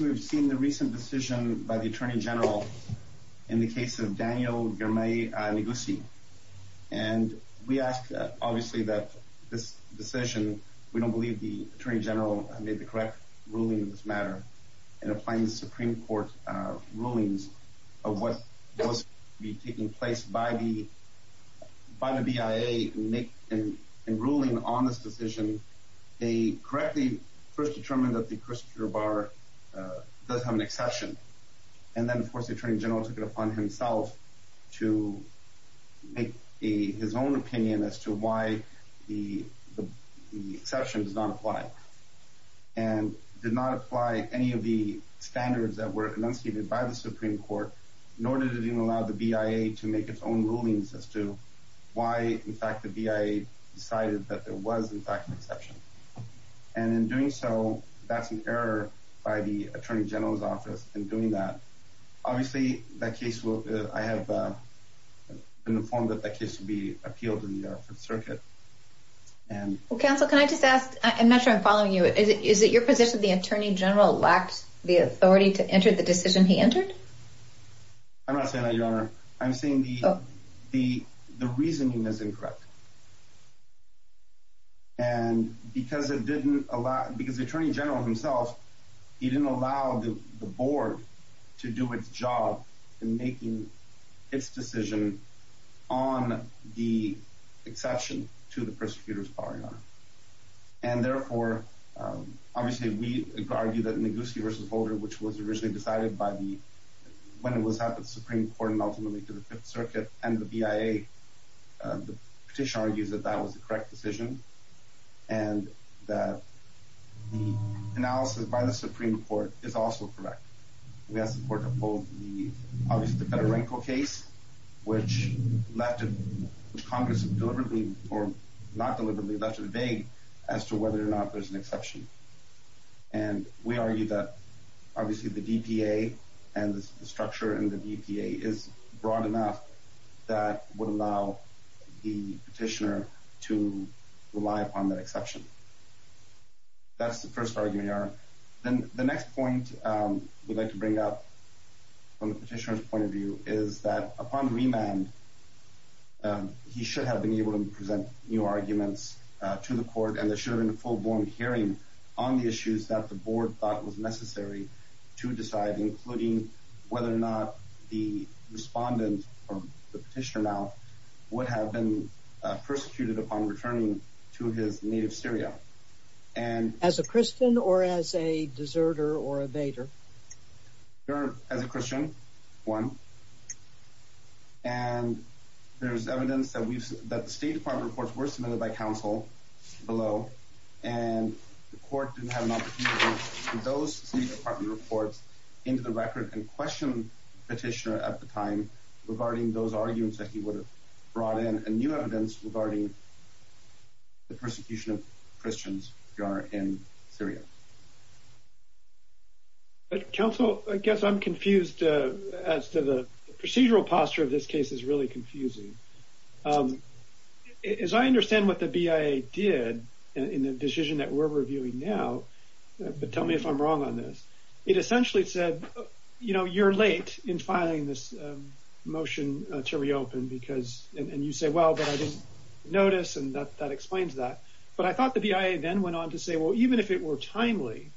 We have seen the recent decision by the Attorney General in the case of Daniel Girmay-Negussi. We ask that this decision, we don't believe the Attorney General made the correct ruling in this matter in applying the Supreme Court rulings of what was taking place by the BIA In ruling on this decision, they correctly first determined that the Christopher Barr does have an exception and then of course the Attorney General took it upon himself to make his own opinion as to why the exception does not apply and did not apply any of the standards that were enunciated by the Supreme Court nor did it allow the BIA to make its own rulings as to why in fact the BIA decided that there was in fact an exception and in doing so, that's an error by the Attorney General's office in doing that Obviously, I have been informed that that case will be appealed in the U.S. Circuit Counsel, can I just ask, I'm not sure I'm following you, is it your position that the Attorney General lacked the authority to enter the decision he entered? I'm not saying that, Your Honor. I'm saying the reasoning is incorrect. and because the Attorney General himself, he didn't allow the Board to do its job in making its decision on the exception to the Prosecutor's power, Your Honor and therefore, obviously we argue that Neguski v. Holder, which was originally decided by the, when it was at the Supreme Court and ultimately to the Fifth Circuit and the BIA, the petition argues that that was the correct decision and that the analysis by the Supreme Court is also correct We ask the Court to uphold the Federenko case, which Congress deliberately, or not deliberately, left it vague as to whether or not there's an exception and we argue that obviously the DPA and the structure in the DPA is broad enough that would allow the petitioner to rely upon that exception That's the first argument, Your Honor. Then the next point we'd like to bring up from the petitioner's point of view is that upon remand he should have been able to present new arguments to the Court and there should have been a full-blown hearing on the issues that the Board thought was necessary to decide including whether or not the respondent, or the petitioner now, would have been persecuted upon returning to his native Syria As a Christian or as a deserter or evader? Your Honor, as a Christian, one. And there's evidence that the State Department reports were submitted by counsel below and the Court didn't have an opportunity to put those State Department reports into the record and question the petitioner at the time regarding those arguments that he would have brought in and new evidence regarding the persecution of Christians, Your Honor, in Syria Counsel, I guess I'm confused as to the procedural posture of this case is really confusing As I understand what the BIA did in the decision that we're reviewing now, but tell me if I'm wrong on this It essentially said, you know, you're late in filing this motion to reopen because, and you say, well, but I didn't notice and that explains that But I thought the BIA then went on to say, well, even if it were timely,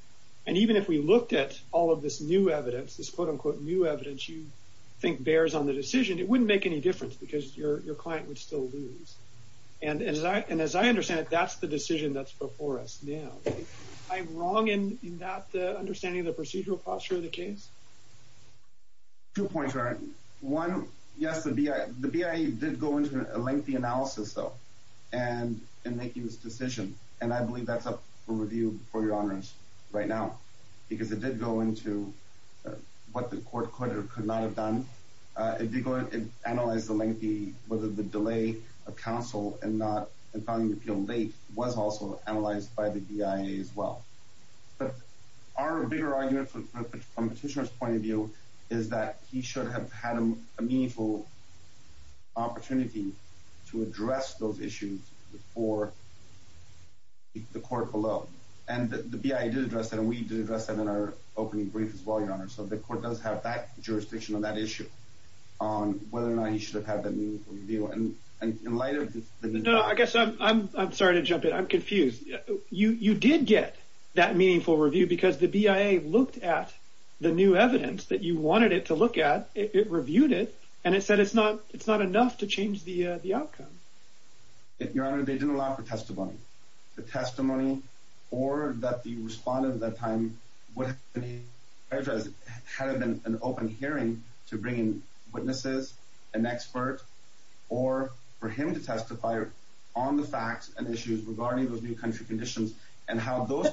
and even if we looked at all of this new evidence this quote-unquote new evidence you think bears on the decision, it wouldn't make any difference because your client would still lose And as I understand it, that's the decision that's before us now Am I wrong in that understanding of the procedural posture of the case? Two points, Ryan. One, yes, the BIA did go into a lengthy analysis, though, in making this decision And I believe that's up for review before Your Honors right now Because it did go into what the court could or could not have done It analyzed the lengthy, whether the delay of counsel in filing the appeal late was also analyzed by the BIA as well But our bigger argument from the petitioner's point of view is that he should have had a meaningful opportunity to address those issues before the court followed And the BIA did address that, and we did address that in our opening brief as well, Your Honor So the court does have that jurisdiction on that issue, on whether or not he should have had that meaningful review No, I guess I'm sorry to jump in, I'm confused You did get that meaningful review because the BIA looked at the new evidence that you wanted it to look at It reviewed it, and it said it's not enough to change the outcome Your Honor, they didn't allow for testimony Or that the respondent at that time had an open hearing to bring in witnesses, an expert, or for him to testify on the facts and issues regarding those new country conditions And how those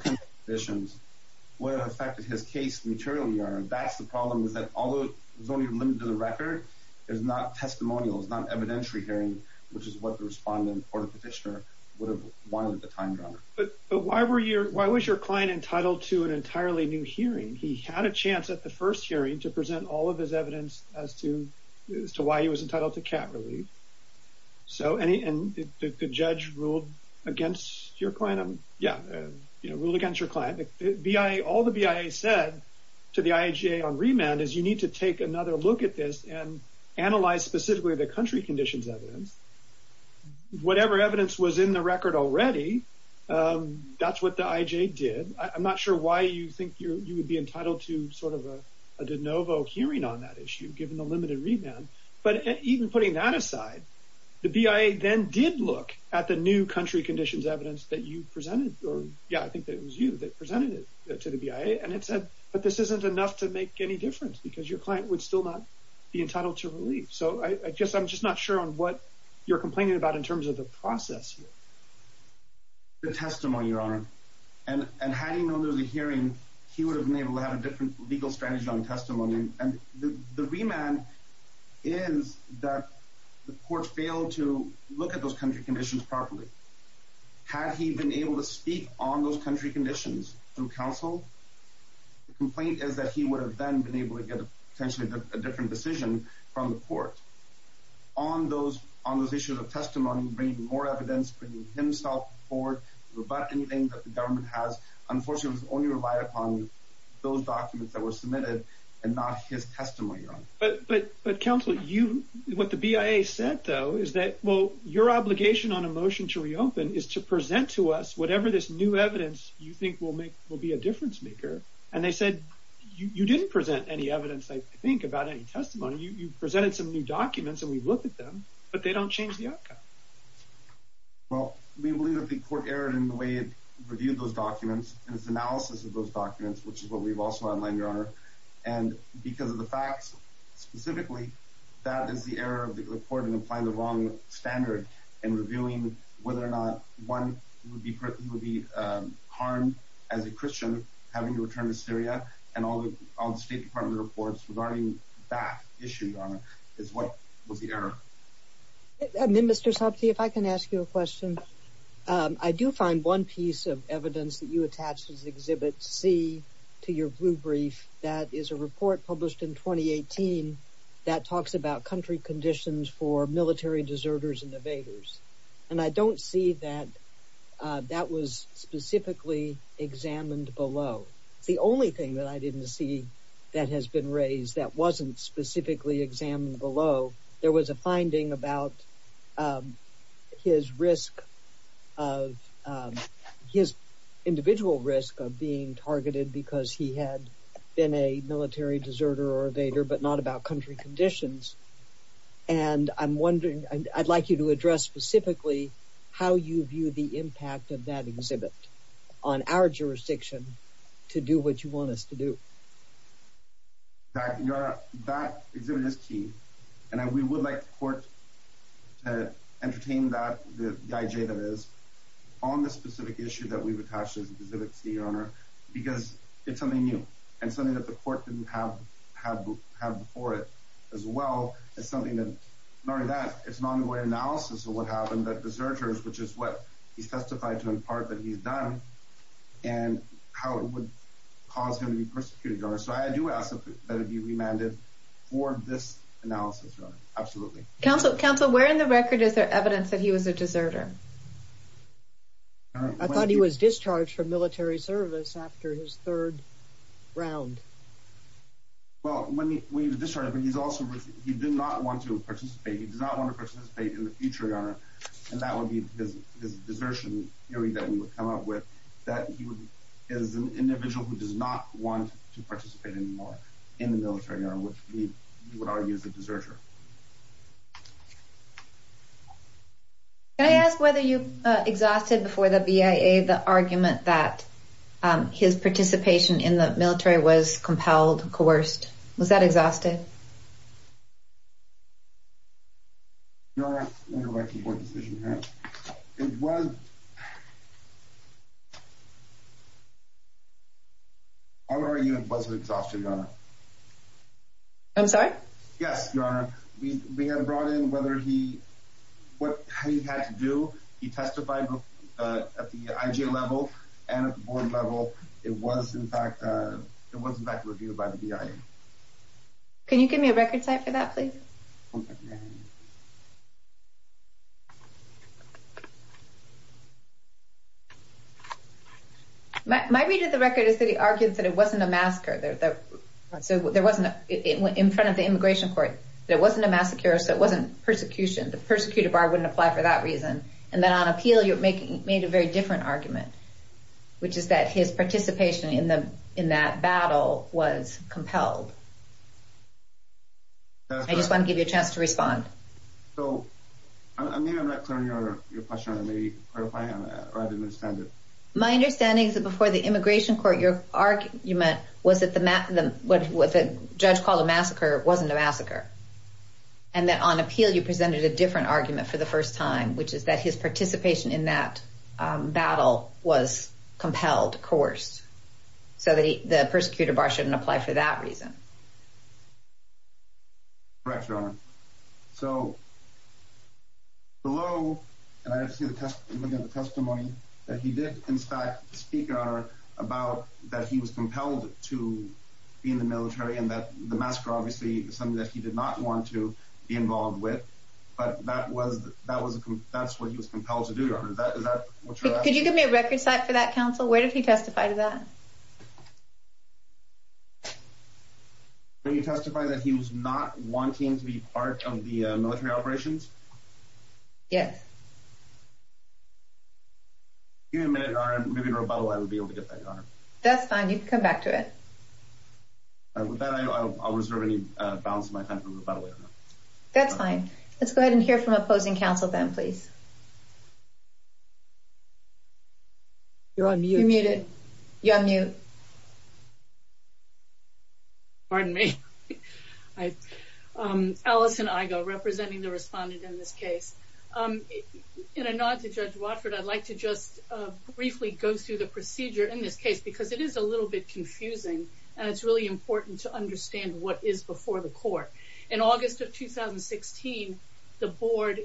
conditions would have affected his case materially, Your Honor That's the problem, is that although it was only limited to the record, it was not testimonial, it was not an evidentiary hearing Which is what the respondent or the petitioner would have wanted at the time, Your Honor But why was your client entitled to an entirely new hearing? He had a chance at the first hearing to present all of his evidence as to why he was entitled to cap relief And the judge ruled against your client? Yeah, ruled against your client All the BIA said to the IJA on remand is you need to take another look at this and analyze specifically the country conditions evidence Whatever evidence was in the record already, that's what the IJA did I'm not sure why you think you would be entitled to sort of a de novo hearing on that issue, given the limited remand But even putting that aside, the BIA then did look at the new country conditions evidence that you presented Yeah, I think it was you that presented it to the BIA And it said, but this isn't enough to make any difference because your client would still not be entitled to relief So I'm just not sure on what you're complaining about in terms of the process here The testimony, Your Honor And had he known there was a hearing, he would have been able to have a different legal strategy on testimony And the remand is that the court failed to look at those country conditions properly Had he been able to speak on those country conditions through counsel The complaint is that he would have then been able to get potentially a different decision from the court On those issues of testimony, bringing more evidence, bringing himself forward, rebut anything that the government has Unfortunately, it was only relied upon those documents that were submitted and not his testimony, Your Honor But counsel, what the BIA said though is that, well, your obligation on a motion to reopen is to present to us Whatever this new evidence you think will be a difference maker And they said, you didn't present any evidence, I think, about any testimony You presented some new documents and we looked at them, but they don't change the outcome Well, we believe that the court erred in the way it reviewed those documents In its analysis of those documents, which is what we've also outlined, Your Honor And because of the facts, specifically, that is the error of the court in applying the wrong standard In reviewing whether or not one would be harmed as a Christian having to return to Syria And all the State Department reports regarding that issue, Your Honor, is what was the error Mr. Sapte, if I can ask you a question I do find one piece of evidence that you attached as Exhibit C to your blue brief That is a report published in 2018 that talks about country conditions for military deserters and evaders And I don't see that that was specifically examined below The only thing that I didn't see that has been raised that wasn't specifically examined below There was a finding about his individual risk of being targeted because he had been a military deserter or evader But not about country conditions And I'd like you to address specifically how you view the impact of that exhibit On our jurisdiction to do what you want us to do That exhibit is key And we would like the court to entertain that, the IJ that is, on the specific issue that we've attached as Exhibit C, Your Honor Because it's something new And something that the court didn't have before it as well It's something that, not only that, it's an ongoing analysis of what happened That deserters, which is what he testified to in part that he's done And how it would cause him to be persecuted, Your Honor So I do ask that it be remanded for this analysis, Your Honor Absolutely Counsel, where in the record is there evidence that he was a deserter? I thought he was discharged from military service after his third round Well, when he was discharged, he did not want to participate He did not want to participate in the future, Your Honor And that would be his desertion theory that we would come up with That he is an individual who does not want to participate anymore in the military Which we would argue is a deserter Can I ask whether you exhausted before the BIA the argument that his participation in the military was compelled, coerced Was that exhausted? Your Honor, let me go back to the court decision, Your Honor It was... Our argument was an exhaustion, Your Honor I'm sorry? Yes, Your Honor We had brought in whether he... what he had to do He testified at the IG level and at the board level It was, in fact, reviewed by the BIA Can you give me a record cite for that, please? My read of the record is that he argued that it wasn't a massacre There wasn't... in front of the immigration court There wasn't a massacre, so it wasn't persecution The persecuted bar wouldn't apply for that reason And then on appeal, you made a very different argument Which is that his participation in that battle was compelled I just want to give you a chance to respond So, I mean, I'm not clear on your question, Your Honor My understanding is that before the immigration court Your argument was that what the judge called a massacre wasn't a massacre And that on appeal, you presented a different argument for the first time Which is that his participation in that battle was compelled, coerced So the persecuted bar shouldn't apply for that reason Correct, Your Honor So, below... And I see the testimony that he did, in fact, speak, Your Honor About that he was compelled to be in the military And that the massacre, obviously, was something that he did not want to be involved with But that was... that's what he was compelled to do, Your Honor Is that what you're asking? Could you give me a record cite for that, counsel? Where did he testify to that? Could you testify that he was not wanting to be part of the military operations? Yes Give me a minute, Your Honor, maybe in rebuttal I would be able to get that, Your Honor That's fine, you can come back to it With that, I'll reserve any balance of my time for rebuttal, Your Honor That's fine Let's go ahead and hear from opposing counsel then, please You're on mute You're muted You're on mute Pardon me Alison Igo, representing the respondent in this case In a nod to Judge Watford, I'd like to just briefly go through the procedure in this case Because it is a little bit confusing And it's really important to understand what is before the court In August of 2016, the board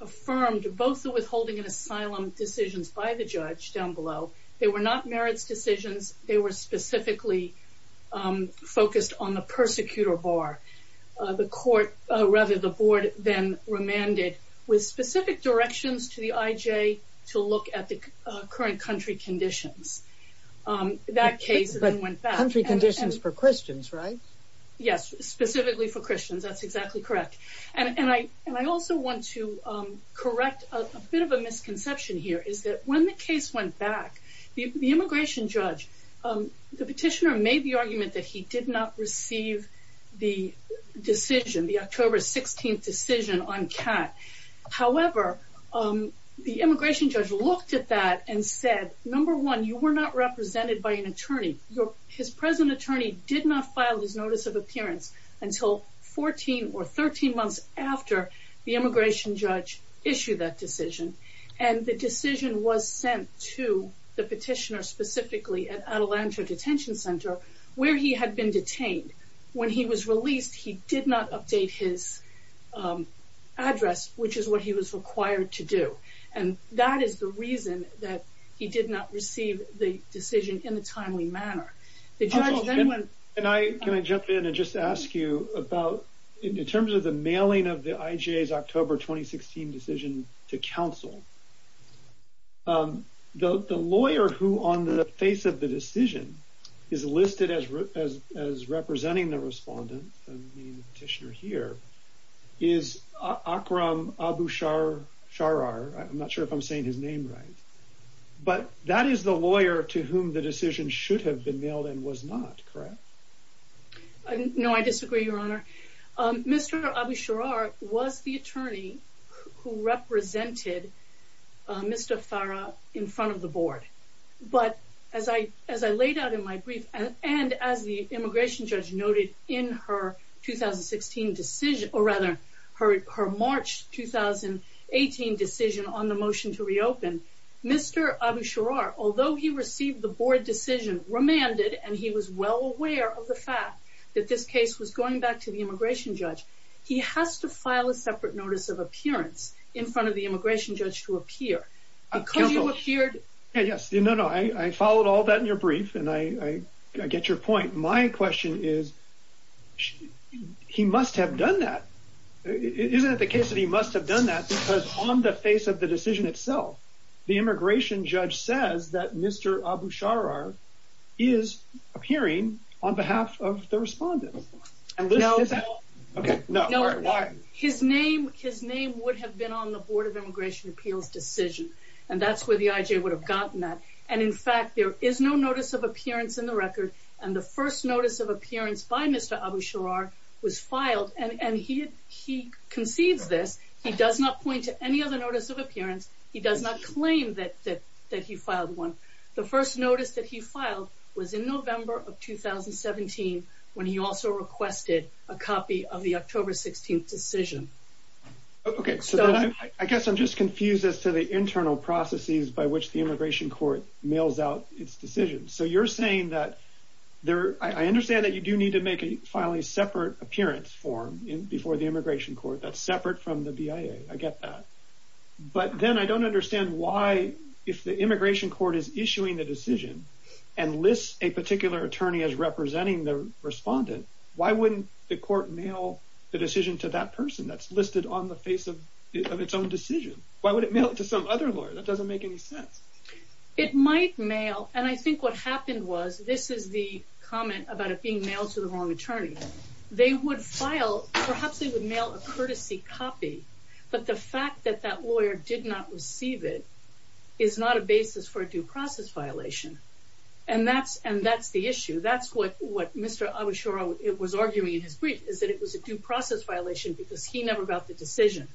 affirmed both the withholding and asylum decisions by the judge, down below They were not merits decisions, they were specifically focused on the persecutor bar The court, rather the board, then remanded with specific directions to the IJ to look at the current country conditions That case then went back Country conditions for Christians, right? Yes, specifically for Christians, that's exactly correct And I also want to correct a bit of a misconception here Is that when the case went back The immigration judge, the petitioner made the argument that he did not receive the decision The October 16th decision on CAT However, the immigration judge looked at that and said Number one, you were not represented by an attorney Number two, his present attorney did not file his notice of appearance Until 14 or 13 months after the immigration judge issued that decision And the decision was sent to the petitioner specifically at Atalanta Detention Center Where he had been detained When he was released, he did not update his address Which is what he was required to do And that is the reason that he did not receive the decision in a timely manner Can I jump in and just ask you about In terms of the mailing of the IJ's October 2016 decision to counsel The lawyer who on the face of the decision Is listed as representing the respondent The petitioner here Is Akram Abusharar I'm not sure if I'm saying his name right But that is the lawyer to whom the decision should have been mailed and was not, correct? No, I disagree, your honor Mr. Abusharar was the attorney who represented Mr. Farah in front of the board But as I laid out in my brief And as the immigration judge noted in her 2016 decision Or rather, her March 2018 decision on the motion to reopen Mr. Abusharar, although he received the board decision remanded And he was well aware of the fact that this case was going back to the immigration judge He has to file a separate notice of appearance in front of the immigration judge to appear I followed all that in your brief and I get your point My question is, he must have done that Isn't it the case that he must have done that because on the face of the decision itself The immigration judge says that Mr. Abusharar is appearing on behalf of the respondent His name would have been on the board of immigration appeals decision And that's where the IJ would have gotten that And in fact there is no notice of appearance in the record And the first notice of appearance by Mr. Abusharar was filed And he concedes this, he does not point to any other notice of appearance He does not claim that he filed one The first notice that he filed was in November of 2017 When he also requested a copy of the October 16th decision I guess I'm just confused as to the internal processes by which the immigration court mails out its decisions So you're saying that, I understand that you do need to file a separate appearance form Before the immigration court, that's separate from the BIA, I get that But then I don't understand why, if the immigration court is issuing the decision And lists a particular attorney as representing the respondent Why wouldn't the court mail the decision to that person that's listed on the face of its own decision Why would it mail it to some other lawyer, that doesn't make any sense It might mail, and I think what happened was, this is the comment about it being mailed to the wrong attorney They would file, perhaps they would mail a courtesy copy But the fact that that lawyer did not receive it Is not a basis for a due process violation And that's the issue, that's what Mr. Abishara was arguing in his brief Is that it was a due process violation because he never got the decision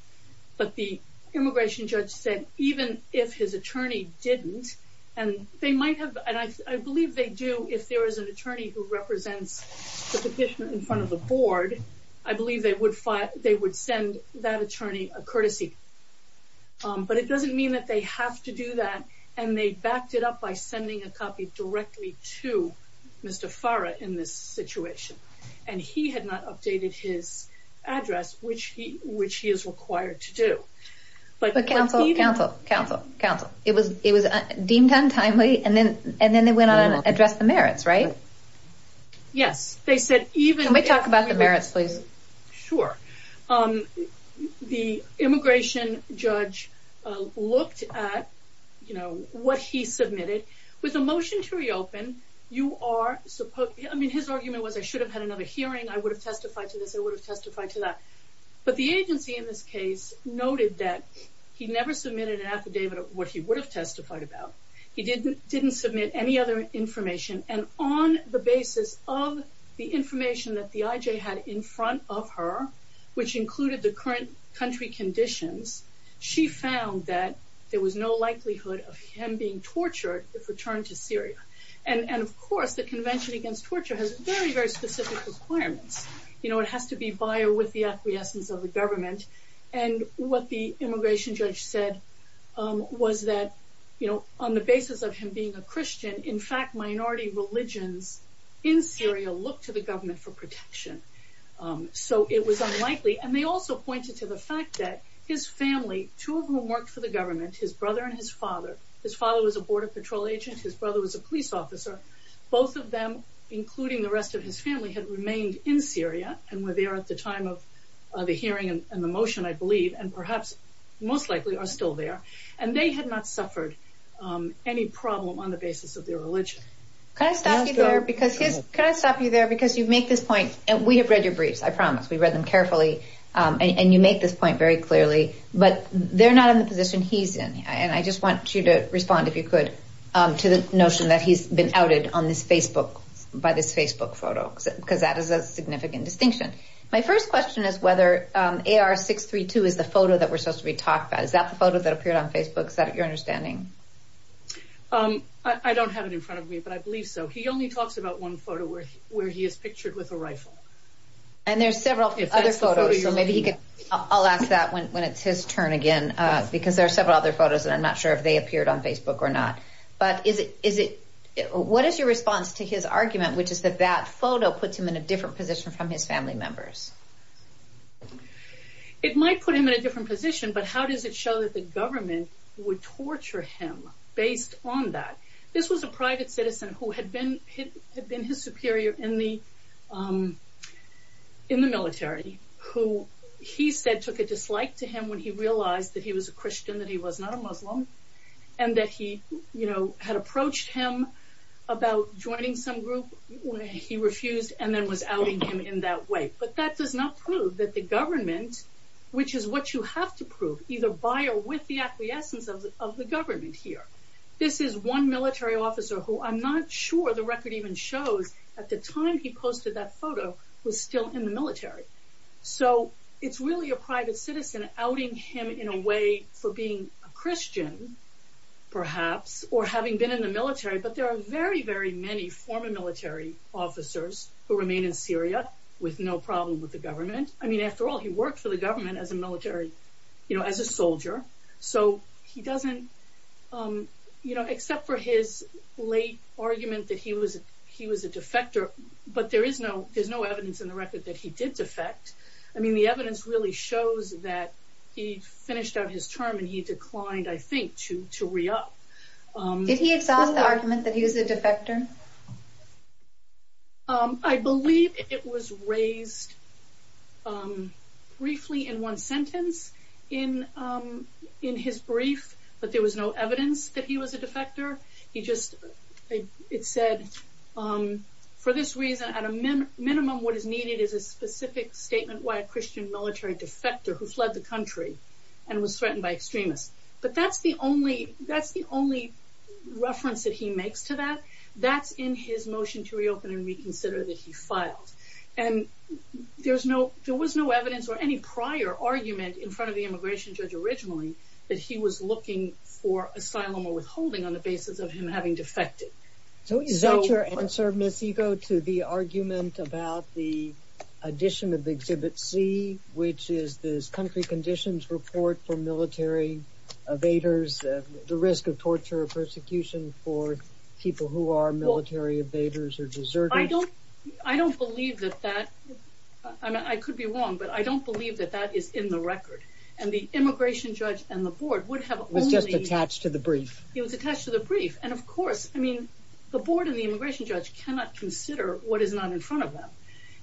But the immigration judge said, even if his attorney didn't And they might have, and I believe they do, if there is an attorney who represents the petitioner in front of the board I believe they would send that attorney a courtesy But it doesn't mean that they have to do that And they backed it up by sending a copy directly to Mr. Farah in this situation And he had not updated his address, which he is required to do But counsel, it was deemed untimely, and then they went on to address the merits, right? Yes, they said even... Can we talk about the merits please? Sure, the immigration judge looked at what he submitted With a motion to reopen, his argument was, I should have had another hearing I would have testified to this, I would have testified to that But the agency in this case noted that he never submitted an affidavit of what he would have testified about He didn't submit any other information And on the basis of the information that the IJ had in front of her Which included the current country conditions She found that there was no likelihood of him being tortured if returned to Syria And of course, the Convention Against Torture has very, very specific requirements You know, it has to be by or with the acquiescence of the government And what the immigration judge said was that, you know, on the basis of him being a Christian In fact, minority religions in Syria look to the government for protection So it was unlikely And they also pointed to the fact that his family, two of whom worked for the government His brother and his father His father was a border patrol agent, his brother was a police officer Both of them, including the rest of his family, had remained in Syria And were there at the time of the hearing and the motion, I believe And perhaps, most likely, are still there And they had not suffered any problem on the basis of their religion Can I stop you there? Because you make this point And we have read your briefs, I promise We read them carefully And you make this point very clearly But they're not in the position he's in And I just want you to respond, if you could To the notion that he's been outed on this Facebook By this Facebook photo Because that is a significant distinction My first question is whether AR-632 is the photo that we're supposed to be talking about Is that the photo that appeared on Facebook? Is that your understanding? I don't have it in front of me, but I believe so He only talks about one photo where he is pictured with a rifle And there's several other photos So maybe he could... I'll ask that when it's his turn again Because there are several other photos And I'm not sure if they appeared on Facebook or not But is it... What is your response to his argument Which is that that photo puts him in a different position From his family members? It might put him in a different position But how does it show that the government Would torture him based on that? This was a private citizen who had been Had been his superior in the military Who he said took a dislike to him When he realized that he was a Christian That he was not a Muslim And that he, you know, had approached him About joining some group He refused and then was outing him in that way But that does not prove that the government Which is what you have to prove Either by or with the acquiescence of the government here This is one military officer Who I'm not sure the record even shows At the time he posted that photo Was still in the military So it's really a private citizen Outing him in a way for being a Christian Perhaps Or having been in the military But there are very, very many former military officers Who remain in Syria With no problem with the government I mean after all he worked for the government As a military, you know, as a soldier So he doesn't, you know Except for his late argument that he was He was a defector But there is no, there's no evidence in the record That he did defect I mean the evidence really shows that He finished out his term And he declined, I think, to re-up Did he exhaust the argument that he was a defector? I believe it was raised Briefly in one sentence In his brief But there was no evidence that he was a defector He just, it said For this reason, at a minimum What is needed is a specific statement Why a Christian military defector Who fled the country And was threatened by extremists But that's the only That's the only reference that he makes to that That's in his motion to reopen and reconsider That he filed And there's no There was no evidence or any prior argument In front of the immigration judge originally That he was looking for asylum or withholding On the basis of him having defected So is that your answer, Ms. Ego To the argument about the addition of Exhibit C Which is this country conditions report For military evaders The risk of torture or persecution For people who are military evaders or deserters I don't believe that that I could be wrong But I don't believe that that is in the record And the immigration judge and the board Would have only It was just attached to the brief It was attached to the brief And of course, I mean The board and the immigration judge Cannot consider what is not in front of them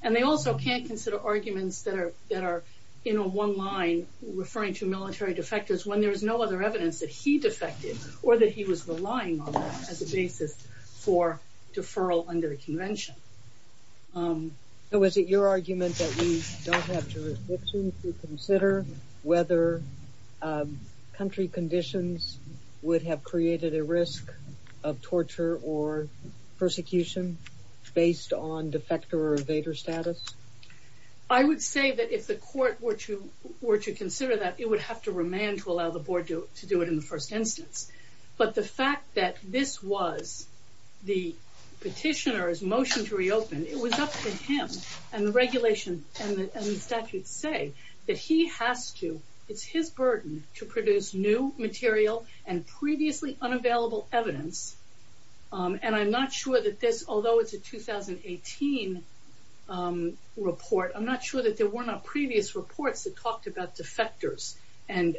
And they also can't consider arguments That are in a one line Referring to military defectors When there is no other evidence that he defected Or that he was relying on As a basis for deferral under the convention So is it your argument That we don't have jurisdiction To consider whether country conditions Would have created a risk of torture or persecution Based on defector or evader status I would say that if the court were to Were to consider that It would have to remand to allow the board To do it in the first instance But the fact that this was The petitioner's motion to reopen It was up to him And the regulation and the statute say That he has to It's his burden to produce new material And previously unavailable evidence And I'm not sure that this Although it's a 2018 report I'm not sure that there were not previous reports That talked about defectors And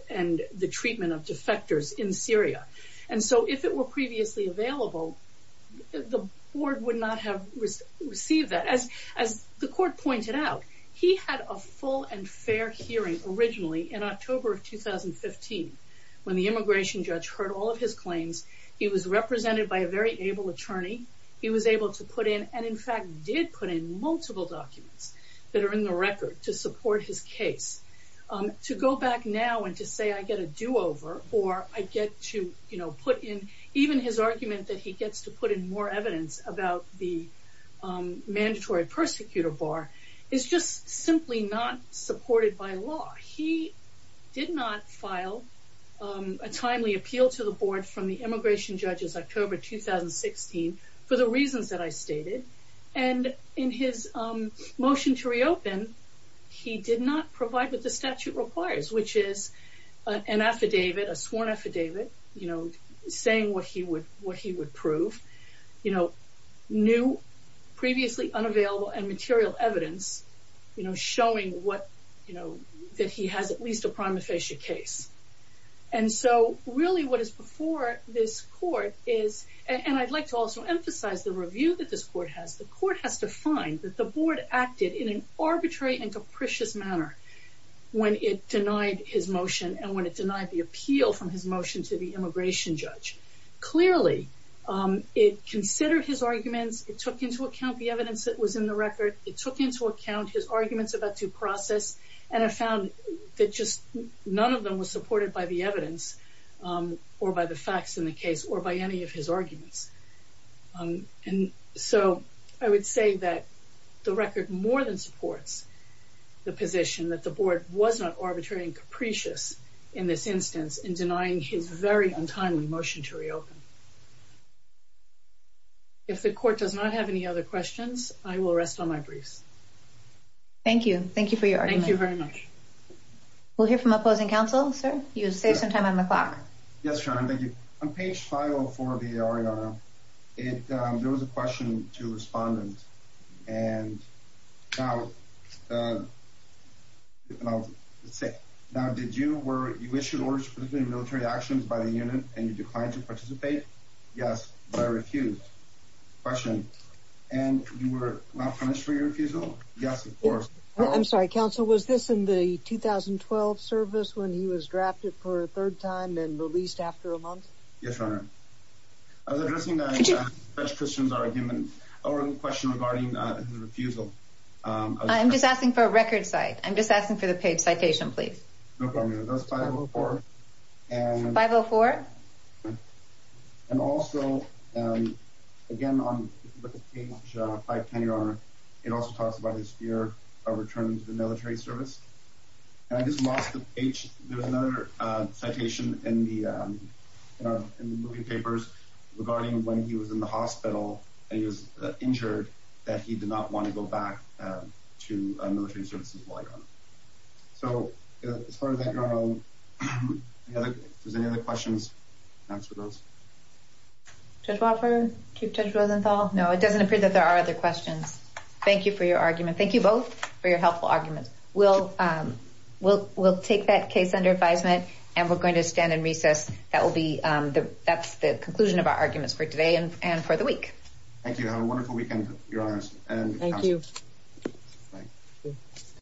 the treatment of defectors in Syria And so if it were previously available The board would not have received that As the court pointed out He had a full and fair hearing Originally in October of 2015 When the immigration judge heard all of his claims He was represented by a very able attorney He was able to put in And in fact did put in multiple documents That are in the record to support his case To go back now and to say I get a do-over Or I get to put in Even his argument that he gets to put in more evidence About the mandatory persecutor bar Is just simply not supported by law He did not file a timely appeal to the board From the immigration judges October 2016 For the reasons that I stated And in his motion to reopen He did not provide what the statute requires Which is an affidavit, a sworn affidavit Saying what he would prove New, previously unavailable and material evidence Showing that he has at least a prima facie case And so really what is before this court is And I'd like to also emphasize the review that this court has The court has to find that the board acted In an arbitrary and capricious manner When it denied his motion And when it denied the appeal from his motion To the immigration judge Clearly it considered his arguments It took into account the evidence that was in the record It took into account his arguments about due process And it found that just none of them was supported by the evidence Or by the facts in the case or by any of his arguments And so I would say that the record more than supports The position that the board was not arbitrary and capricious In this instance in denying his very untimely motion to reopen If the court does not have any other questions I will rest on my briefs Thank you, thank you for your argument Thank you very much We'll hear from opposing counsel Sir, you'll save some time on the clock Yes, Sharon, thank you On page 504 of the RER There was a question to a respondent And now, let's see Now, did you issue orders for military actions by the unit And you declined to participate? Yes, but I refused Question, and you were not punished for your refusal? Yes, of course I'm sorry, counsel, was this in the 2012 service When he was drafted for a third time And released after a month? Yes, your honor I was addressing Judge Christian's argument Or a question regarding his refusal I'm just asking for a record cite I'm just asking for the page citation, please 504? And also, again, on page 510, your honor It also talks about his fear of returning to the military service And I just lost the page There's another citation in the movie papers Regarding when he was in the hospital And he was injured That he did not want to go back to military services So, as far as that, your honor If there's any other questions, I'll answer those Judge Wofford? Chief Judge Rosenthal? No, it doesn't appear that there are other questions Thank you for your argument Thank you both for your helpful arguments We'll take that case under advisement And we're going to stand in recess That's the conclusion of our arguments for today And for the week Thank you, have a wonderful weekend, your honors Thank you